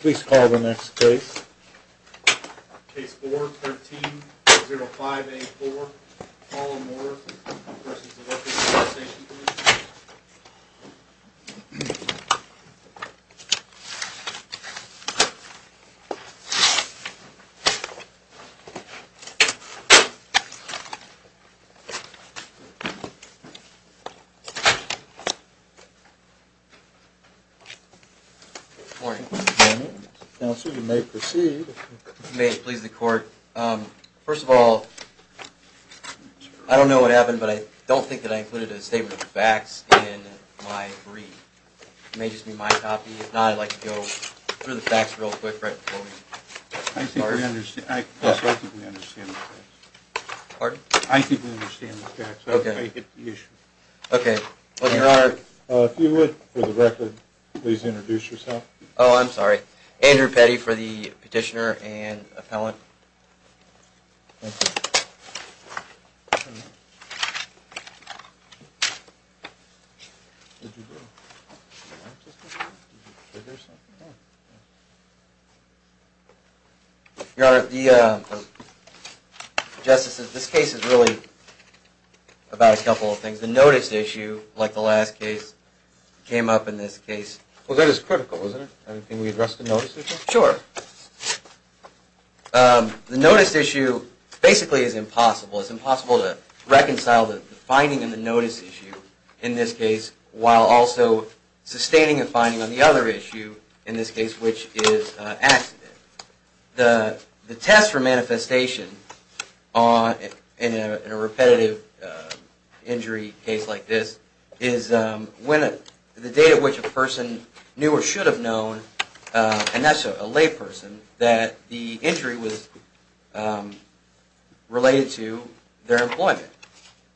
Please call the next case. Case 4-1305A4. Paula Moore, Workers' Compensation Commission. Good morning. Good morning. Counsel, you may proceed. If you may, please, the court. First of all, I don't know what happened, but I don't think that I included a statement of facts in my brief. It may just be my copy. If not, I'd like to go through the facts real quick right before we start. I think we understand the facts. Pardon? I think we understand the facts. I don't think they hit the issue. Okay. Your Honor. If you would, for the record, please introduce yourself. Oh, I'm sorry. Andrew Petty for the petitioner and appellant. Thank you. Your Honor, this case is really about a couple of things. The notice issue, like the last case, came up in this case. Well, that is critical, isn't it? Can we address the notice issue? Sure. The notice issue basically is impossible. It's impossible to reconcile the finding in the notice issue in this case, while also sustaining a finding on the other issue in this case, which is accident. The test for manifestation in a repetitive injury case like this is the date at which a person knew or should have known, and that's a lay person, that the injury was related to their employment.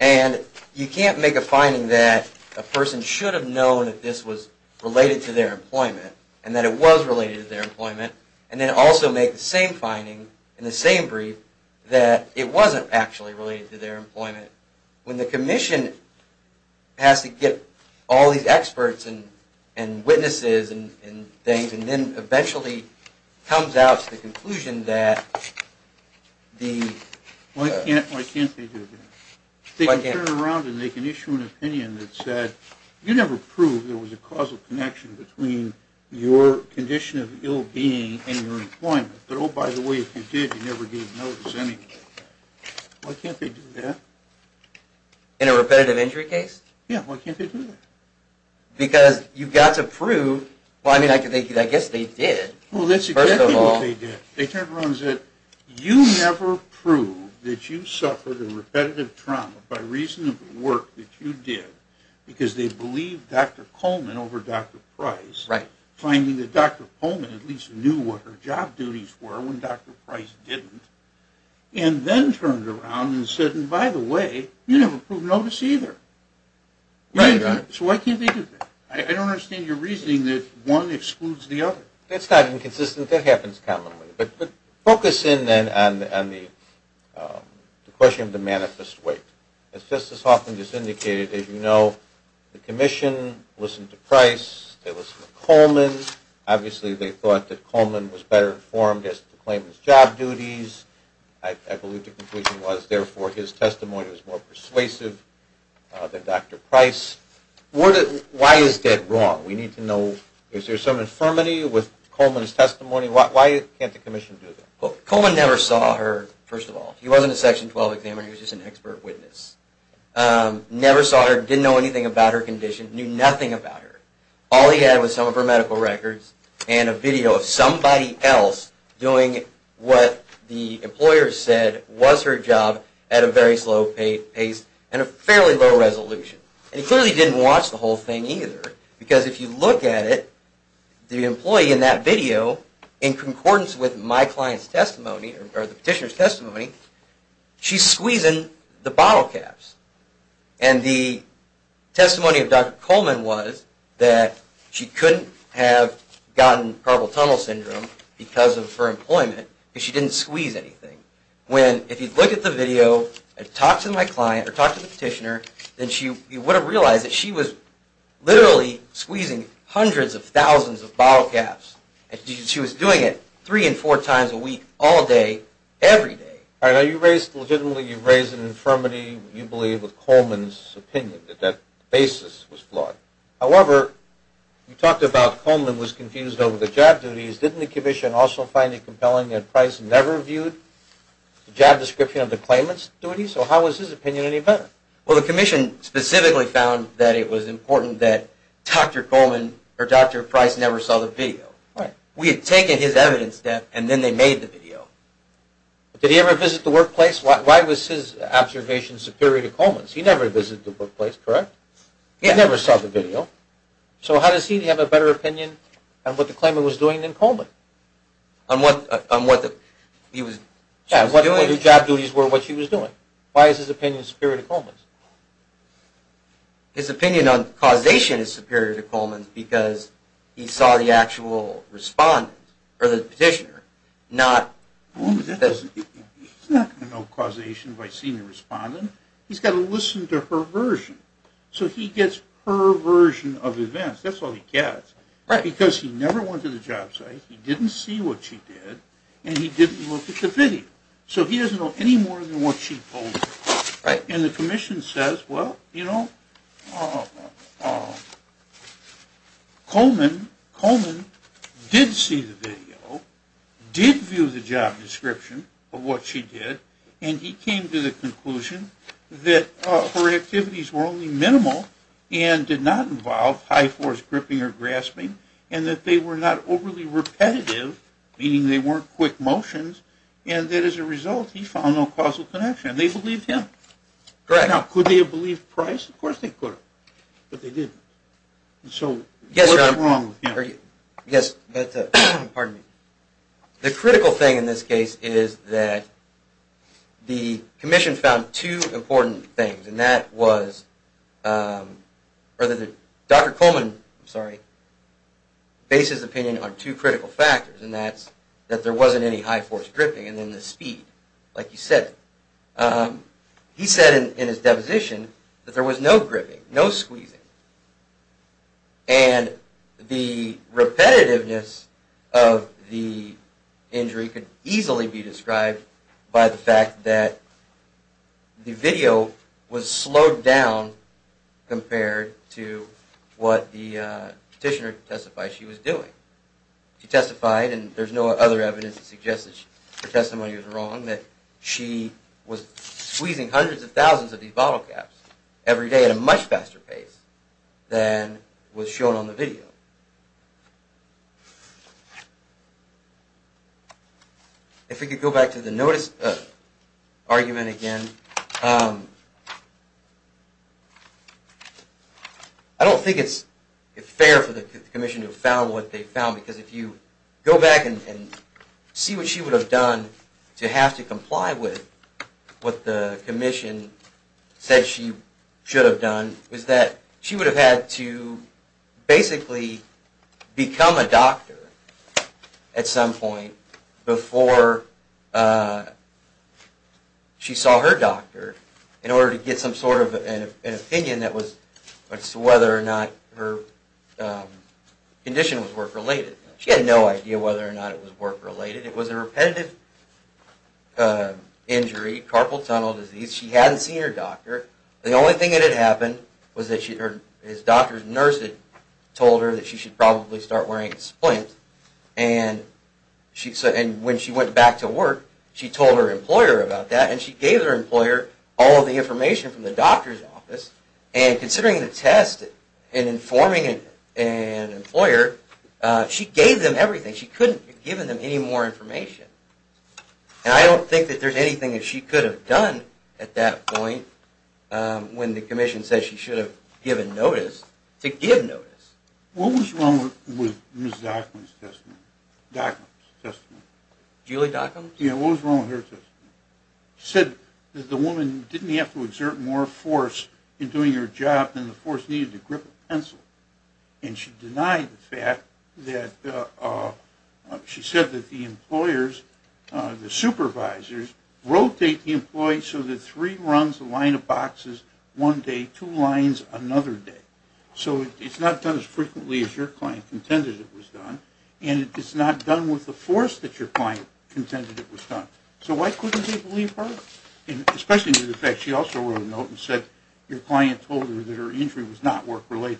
And you can't make a finding that a person should have known that this was related to their employment, and that it was related to their employment, and then also make the same finding in the same brief that it wasn't actually related to their employment. When the commission has to get all these experts and witnesses and things, and then eventually comes out to the conclusion that the... Why can't they do that? They can turn around and they can issue an opinion that said, you never proved there was a causal connection between your condition of ill-being and your employment, but oh, by the way, if you did, you never gave notice anymore. Why can't they do that? In a repetitive injury case? Yeah, why can't they do that? Because you've got to prove... Well, I mean, I guess they did. Well, that's exactly what they did. They turned around and said, you never proved that you suffered a repetitive trauma by reason of the work that you did, because they believed Dr. Coleman over Dr. Price, finding that Dr. Coleman at least knew what her job duties were when Dr. Price didn't, and then turned around and said, and by the way, you never proved notice either. So why can't they do that? I don't understand your reasoning that one excludes the other. That's not inconsistent. That happens commonly. But focus in then on the question of the manifest weight. As Justice Hoffman just indicated, as you know, the commission listened to Price. They listened to Coleman. Obviously, they thought that Coleman was better informed as to the claimant's job duties. I believe the conclusion was, therefore, his testimony was more persuasive than Dr. Price. Why is that wrong? We need to know. Is there some infirmity with Coleman's testimony? Why can't the commission do that? Coleman never saw her, first of all. He wasn't a Section 12 examiner. He was just an expert witness. Never saw her. Didn't know anything about her condition. Knew nothing about her. All he had was some of her medical records and a video of somebody else doing what the employer said was her job at a very slow pace and a fairly low resolution. And he clearly didn't watch the whole thing either. Because if you look at it, the employee in that video, in concordance with my client's testimony, or the petitioner's testimony, she's squeezing the bottle caps. And the testimony of Dr. Coleman was that she couldn't have gotten Carpal Tunnel Syndrome because of her employment because she didn't squeeze anything. When, if you look at the video and talk to my client or talk to the petitioner, then you would have realized that she was literally squeezing hundreds of thousands of bottle caps. She was doing it three and four times a week, all day, every day. All right, now you raised, legitimately you raised an infirmity, you believe, with Coleman's opinion, that that basis was flawed. However, you talked about Coleman was confused over the job duties. Didn't the Commission also find it compelling that Price never viewed the job description of the claimant's duties? So how was his opinion any better? Well, the Commission specifically found that it was important that Dr. Coleman or Dr. Price never saw the video. Right. We had taken his evidence, Deb, and then they made the video. But did he ever visit the workplace? Why was his observation superior to Coleman's? He never visited the workplace, correct? He never saw the video. So how does he have a better opinion on what the claimant was doing than Coleman? On what he was doing? Yeah, what her job duties were, what she was doing. Why is his opinion superior to Coleman's? His opinion on causation is superior to Coleman's because he saw the actual respondent, or the petitioner, not Coleman. He's not going to know causation by seeing the respondent. He's got to listen to her version. So he gets her version of events. That's all he gets. Right. Because he never went to the job site, he didn't see what she did, and he didn't look at the video. So he doesn't know any more than what she told him. Right. And the commission says, well, you know, Coleman did see the video, did view the job description of what she did, and he came to the conclusion that her activities were only minimal and did not involve high force gripping or grasping, and that they were not overly repetitive, meaning they weren't quick motions, and that as a result he found no causal connection. They believed him. Correct. Now, could they have believed Price? Of course they could have. But they didn't. So what's wrong with him? Yes. Pardon me. The critical thing in this case is that the commission found two important things, and that was that Dr. Coleman bases opinion on two critical factors, and that's that there wasn't any high force gripping and then the speed, like you said. He said in his deposition that there was no gripping, no squeezing, and the repetitiveness of the injury could easily be described by the fact that the video was slowed down compared to what the petitioner testified she was doing. She testified, and there's no other evidence to suggest that her testimony was wrong, that she was squeezing hundreds of thousands of these bottle caps every day at a much faster pace than was shown on the video. If we could go back to the notice argument again. I don't think it's fair for the commission to have found what they found, because if you go back and see what she would have done to have to comply with what the commission said she should have done, she would have had to basically become a doctor at some point before she saw her doctor in order to get some sort of an opinion as to whether or not her condition was work-related. She had no idea whether or not it was work-related. It was a repetitive injury, carpal tunnel disease. She hadn't seen her doctor. The only thing that had happened was that her doctor's nurse had told her that she should probably start wearing a splint. And when she went back to work, she told her employer about that, and she gave her employer all of the information from the doctor's office. And considering the test and informing an employer, she gave them everything. She couldn't have given them any more information. And I don't think that there's anything that she could have done at that point when the commission said she should have given notice to give notice. What was wrong with Ms. Dockum's testimony? Julie Dockum? Yeah, what was wrong with her testimony? She said that the woman didn't have to exert more force in doing her job than the force needed to grip a pencil. And she denied the fact that she said that the employers, the supervisors, rotate the employees so that three runs, a line of boxes one day, two lines another day. So it's not done as frequently as your client contended it was done, and it's not done with the force that your client contended it was done. So why couldn't they believe her? Especially due to the fact she also wrote a note and said your client told her that her injury was not work-related.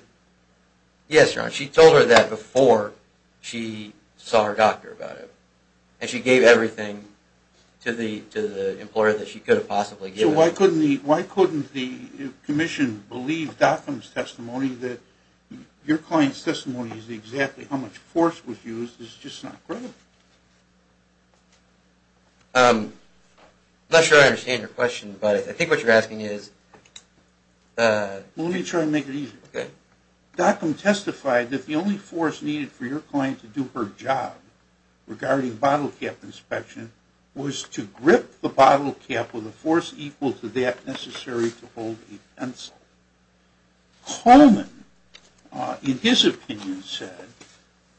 Yes, John. She told her that before she saw her doctor about it. And she gave everything to the employer that she could have possibly given. So why couldn't the commission believe Dockum's testimony that your client's testimony is exactly how much force was used? It's just not credible. I'm not sure I understand your question, but I think what you're asking is... Let me try to make it easier. Okay. Dockum testified that the only force needed for your client to do her job regarding bottle cap inspection was to grip the bottle cap with a force equal to that necessary to hold a pencil. Coleman, in his opinion, said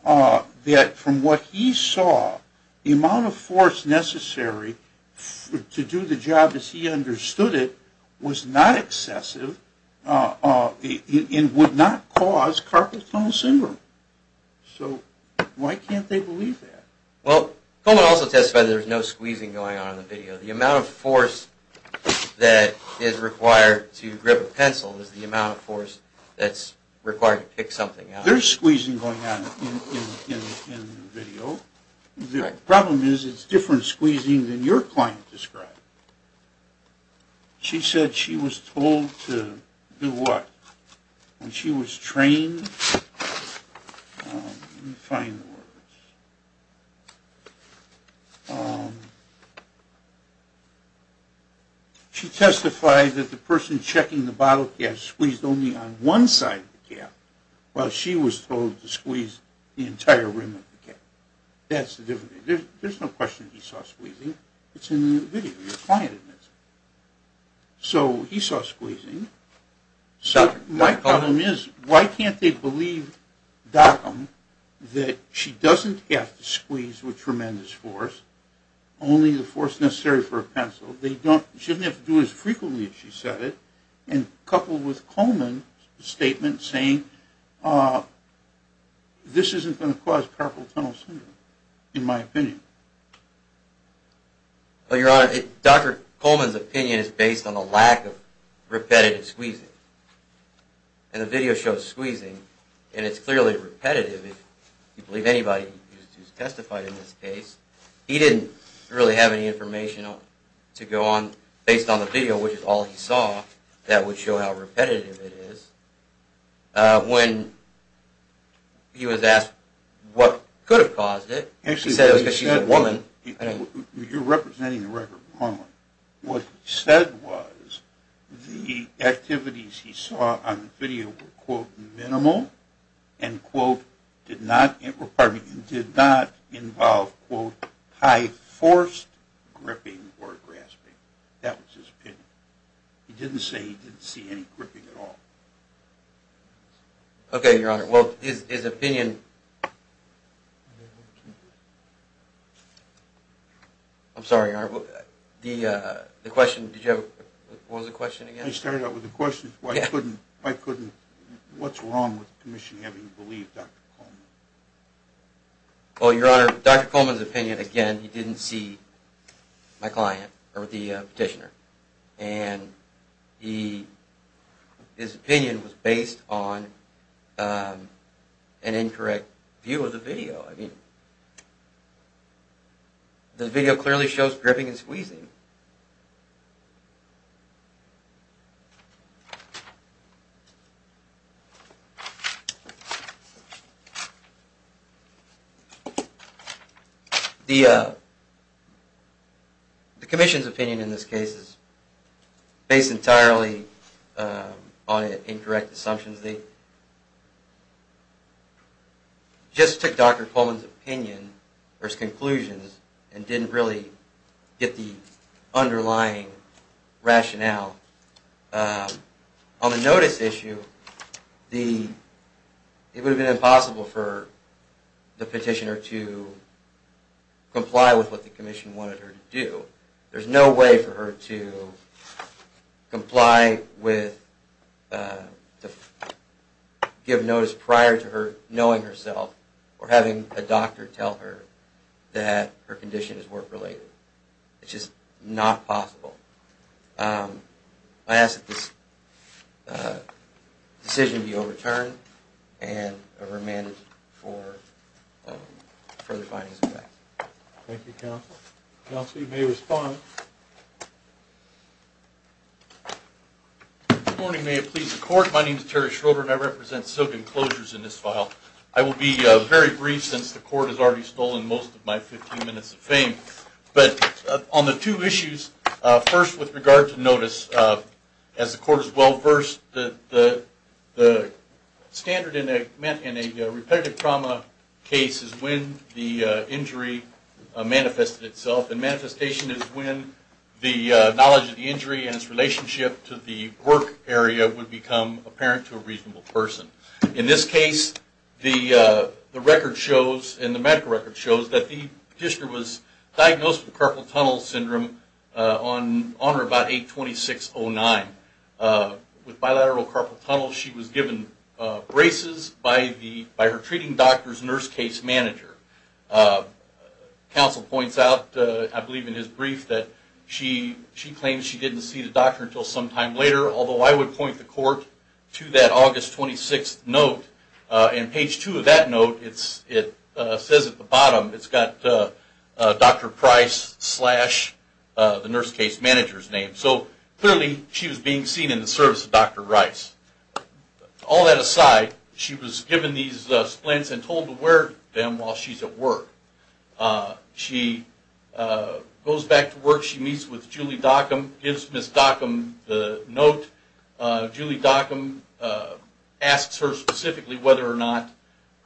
that from what he saw, the amount of force necessary to do the job as he understood it was not excessive and would not cause carpal tunnel syndrome. So why can't they believe that? Well, Coleman also testified that there was no squeezing going on in the video. The amount of force that is required to grip a pencil is the amount of force that's required to pick something out. There's squeezing going on in the video. The problem is it's different squeezing than your client described. She said she was told to do what? When she was trained... Let me find the words. She testified that the person checking the bottle cap squeezed only on one side of the cap while she was told to squeeze the entire rim of the cap. That's the difference. There's no question he saw squeezing. It's in the video. Your client admits it. So he saw squeezing. My problem is why can't they believe Dockum that she doesn't have to squeeze with tremendous force, only the force necessary for a pencil. She doesn't have to do it as frequently as she said it, coupled with Coleman's statement saying this isn't going to cause carpal tunnel syndrome, in my opinion. Your Honor, Dr. Coleman's opinion is based on a lack of repetitive squeezing. And the video shows squeezing, and it's clearly repetitive. If you believe anybody who's testified in this case, he didn't really have any information to go on based on the video, which is all he saw, that would show how repetitive it is. When he was asked what could have caused it, he said it was because she's a woman. You're representing the record, Coleman. What he said was the activities he saw on the video were, quote, minimal and, quote, did not involve, quote, high forced gripping or grasping. That was his opinion. He didn't say he didn't see any gripping at all. Okay, Your Honor. Well, his opinion... I'm sorry, Your Honor. The question, did you have, what was the question again? I started out with the question, why couldn't, why couldn't, what's wrong with the commission having believed Dr. Coleman? Well, Your Honor, Dr. Coleman's opinion, again, he didn't see my client or the petitioner. And his opinion was based on an incorrect view of the video. I mean, the video clearly shows gripping and squeezing. The commission's opinion in this case is based entirely on incorrect assumptions. They just took Dr. Coleman's opinion versus conclusions and didn't really get the underlying rationale. On the notice issue, it would have been impossible for the petitioner to comply with what the commission wanted her to do. There's no way for her to comply with, give notice prior to her knowing herself or having a doctor tell her that her condition is work-related. It's just not possible. I ask that this decision be overturned and remanded for further findings. Thank you, Counsel. Counsel, you may respond. Good morning. May it please the Court, my name is Terry Schroeder and I represent Silk Enclosures in this file. I will be very brief since the Court has already stolen most of my 15 minutes of fame. But on the two issues, first with regard to notice, as the Court has well versed, the standard in a repetitive trauma case is when the injury manifested itself and manifestation is when the knowledge of the injury and its relationship to the work area would become apparent to a reasonable person. In this case, the record shows, and the medical record shows, that the petitioner was diagnosed with carpal tunnel syndrome on or about 8-26-09. With bilateral carpal tunnel, she was given braces by her treating doctor's nurse case manager. Counsel points out, I believe in his brief, that she claimed she didn't see the doctor until some time later, although I would point the Court to that August 26th note. And page 2 of that note, it says at the bottom, it's got Dr. Price slash the nurse case manager's name. So clearly she was being seen in the service of Dr. Rice. All that aside, she was given these splints and told to wear them while she's at work. She goes back to work. She meets with Julie Dockum, gives Ms. Dockum the note. Julie Dockum asks her specifically whether or not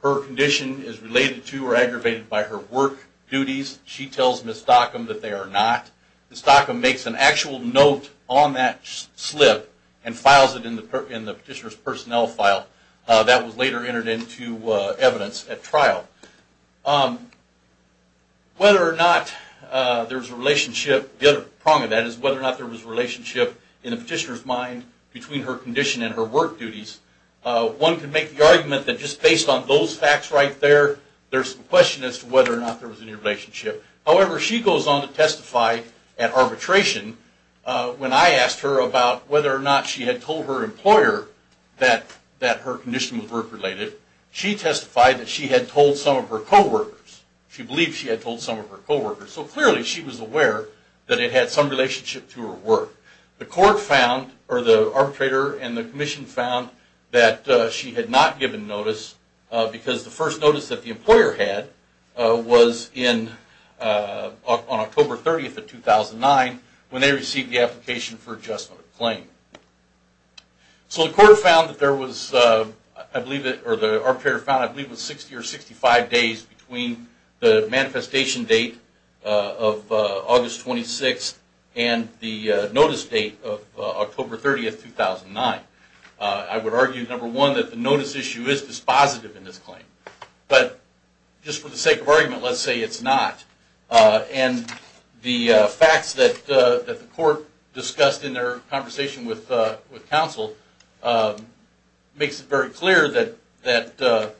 her condition is related to or aggravated by her work duties. She tells Ms. Dockum that they are not. Ms. Dockum makes an actual note on that slip and files it in the petitioner's personnel file. That was later entered into evidence at trial. Whether or not there was a relationship, the other prong of that is whether or not there was a relationship in the petitioner's mind between her condition and her work duties. One could make the argument that just based on those facts right there, there's some question as to whether or not there was any relationship. However, she goes on to testify at arbitration when I asked her about whether or not she had told her employer that her condition was work-related. She testified that she had told some of her co-workers. She believed she had told some of her co-workers. So clearly she was aware that it had some relationship to her work. The court found or the arbitrator and the commission found that she had not given notice because the first notice that the employer had was on October 30th of 2009 when they received the application for adjustment of claim. So the court found that there was, I believe, or the arbitrator found I believe it was 60 or 65 days between the manifestation date of August 26th and the notice date of October 30th, 2009. I would argue, number one, that the notice issue is dispositive in this claim. But just for the sake of argument, let's say it's not. And the facts that the court discussed in their conversation with counsel makes it very clear that the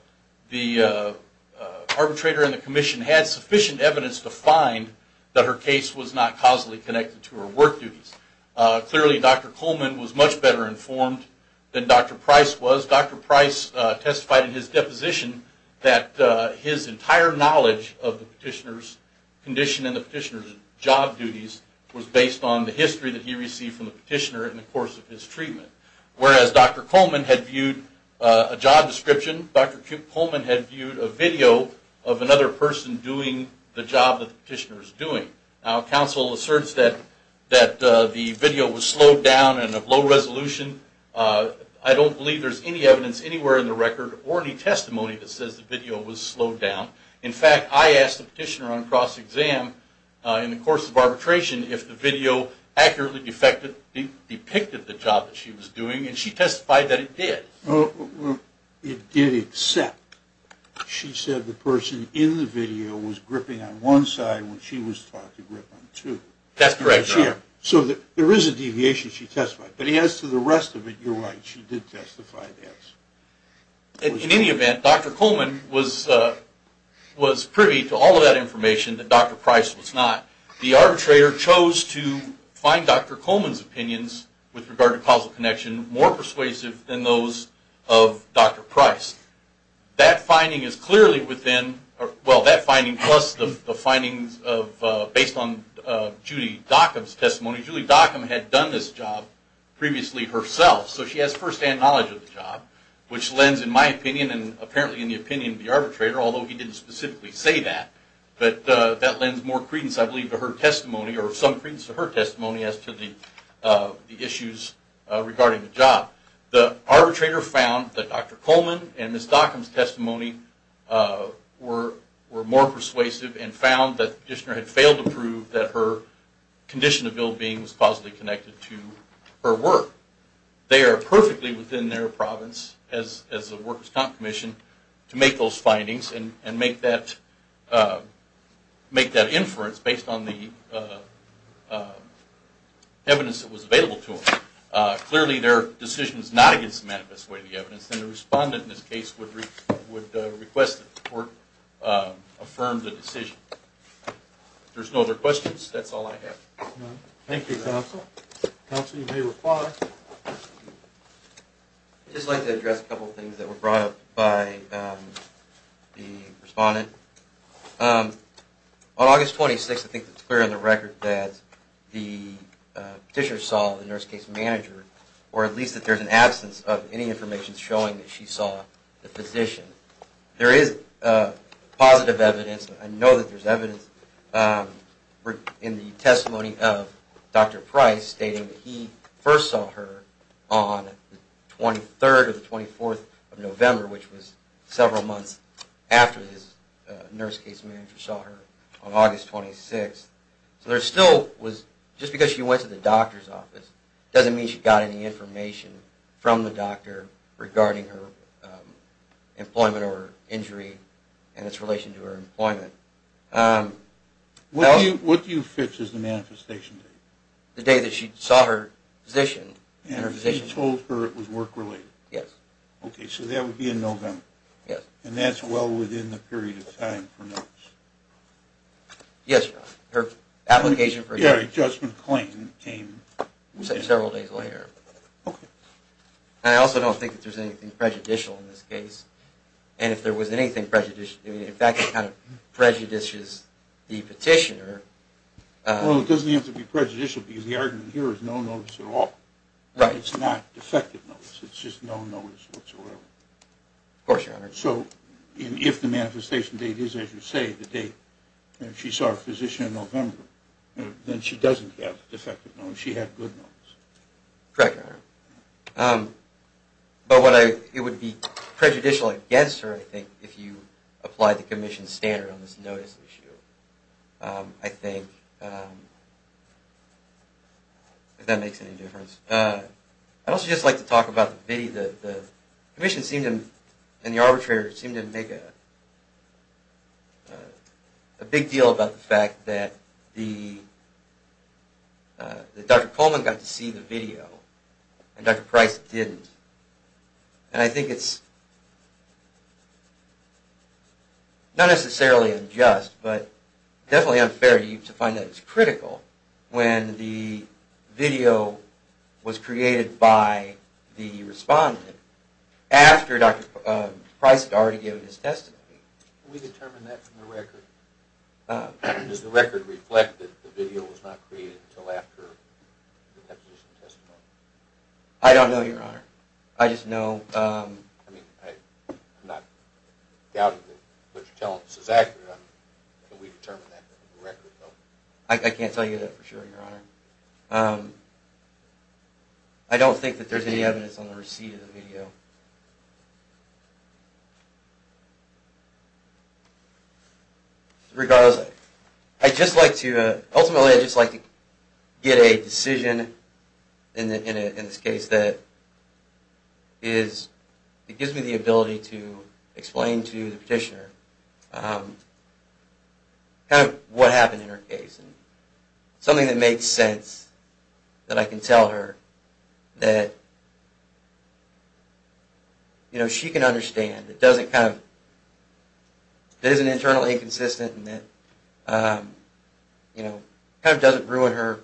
arbitrator and the commission had sufficient evidence to find that her case was not causally connected to her work duties. Clearly, Dr. Coleman was much better informed than Dr. Price was. Dr. Price testified in his deposition that his entire knowledge of the petitioner's condition and the petitioner's job duties was based on the history that he received from the petitioner in the course of his treatment. Whereas Dr. Coleman had viewed a job description, Dr. Coleman had viewed a video of another person doing the job that the petitioner was doing. Now counsel asserts that the video was slowed down and of low resolution. I don't believe there's any evidence anywhere in the record or any testimony that says the video was slowed down. In fact, I asked the petitioner on cross-exam in the course of arbitration if the video accurately depicted the job that she was doing and she testified that it did. It did except she said the person in the video was gripping on one side when she was taught to grip on two. That's correct, Your Honor. So there is a deviation she testified. But as to the rest of it, you're right. She did testify that. In any event, Dr. Coleman was privy to all of that information that Dr. Price was not. The arbitrator chose to find Dr. Coleman's opinions with regard to causal connection more persuasive than those of Dr. Price. That finding is clearly within... Well, that finding plus the findings based on Judy Dockum's testimony. Judy Dockum had done this job previously herself, so she has first-hand knowledge of the job, which lends in my opinion and apparently in the opinion of the arbitrator, although he didn't specifically say that, but that lends more credence I believe to her testimony or some credence to her testimony as to the issues regarding the job. The arbitrator found that Dr. Coleman and Ms. Dockum's testimony were more persuasive and found that the petitioner had failed to prove that her condition of ill-being was causally connected to her work. They are perfectly within their province, as the Workers' Comp Commission, to make those findings and make that inference based on the evidence that was available to them. Clearly their decision is not against the manifest way of the evidence and the respondent in this case would request that the court affirm the decision. If there's no other questions, that's all I have. Thank you, Counsel. Counsel, you may reply. I'd just like to address a couple of things that were brought up by the respondent. On August 26th, I think it's clear on the record that the petitioner saw the nurse case manager or at least that there's an absence of any information showing that she saw the physician. There is positive evidence, I know that there's evidence in the testimony of Dr. Price stating that he first saw her on the 23rd or the 24th of November, which was several months after his nurse case manager saw her on August 26th. So there still was, just because she went to the doctor's office, doesn't mean she got any information from the doctor regarding her employment or injury and its relation to her employment. What do you fix as the manifestation date? The day that she saw her physician. And she told her it was work-related? Yes. Okay, so that would be in November? Yes. And that's well within the period of time for notice? Yes, her application for a judgment claim came several days later. I also don't think that there's anything prejudicial in this case. And if there was anything prejudicial, in fact it kind of prejudices the petitioner. Well, it doesn't have to be prejudicial because the argument here is no notice at all. Right. It's not defective notice. It's just no notice whatsoever. Of course, Your Honor. So if the manifestation date is, as you say, the date that she saw her physician in November, then she doesn't have defective notice. She had good notice. Correct, Your Honor. But it would be prejudicial against her, I think, if you applied the commission's standard on this notice issue. I think, if that makes any difference. I'd also just like to talk about the video. The commission and the arbitrator seemed to make a big deal about the fact that Dr. Coleman got to see the video and Dr. Price didn't. And I think it's not necessarily unjust, but definitely unfair to you to find that it's critical when the video was created by the respondent after Dr. Price had already given his testimony. Can we determine that from the record? Does the record reflect that the video was not created until after the deposition testimony? I don't know, Your Honor. I just know. I'm not doubting that what you're telling us is accurate, but can we determine that from the record? I can't tell you that for sure, Your Honor. I don't think that there's any evidence on the receipt of the video. Regardless, ultimately I'd just like to get a decision in this case that gives me the ability to explain to the petitioner what happened in her case. Something that makes sense, that I can tell her, that she can understand, that isn't internally inconsistent, and that doesn't ruin her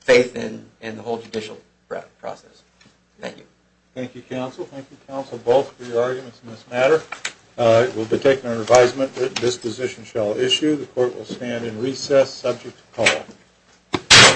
faith in the whole judicial process. Thank you. Thank you, counsel. Thank you, counsel, both, for your arguments in this matter. It will be taken under advisement that this position shall issue. The court will stand in recess subject to call.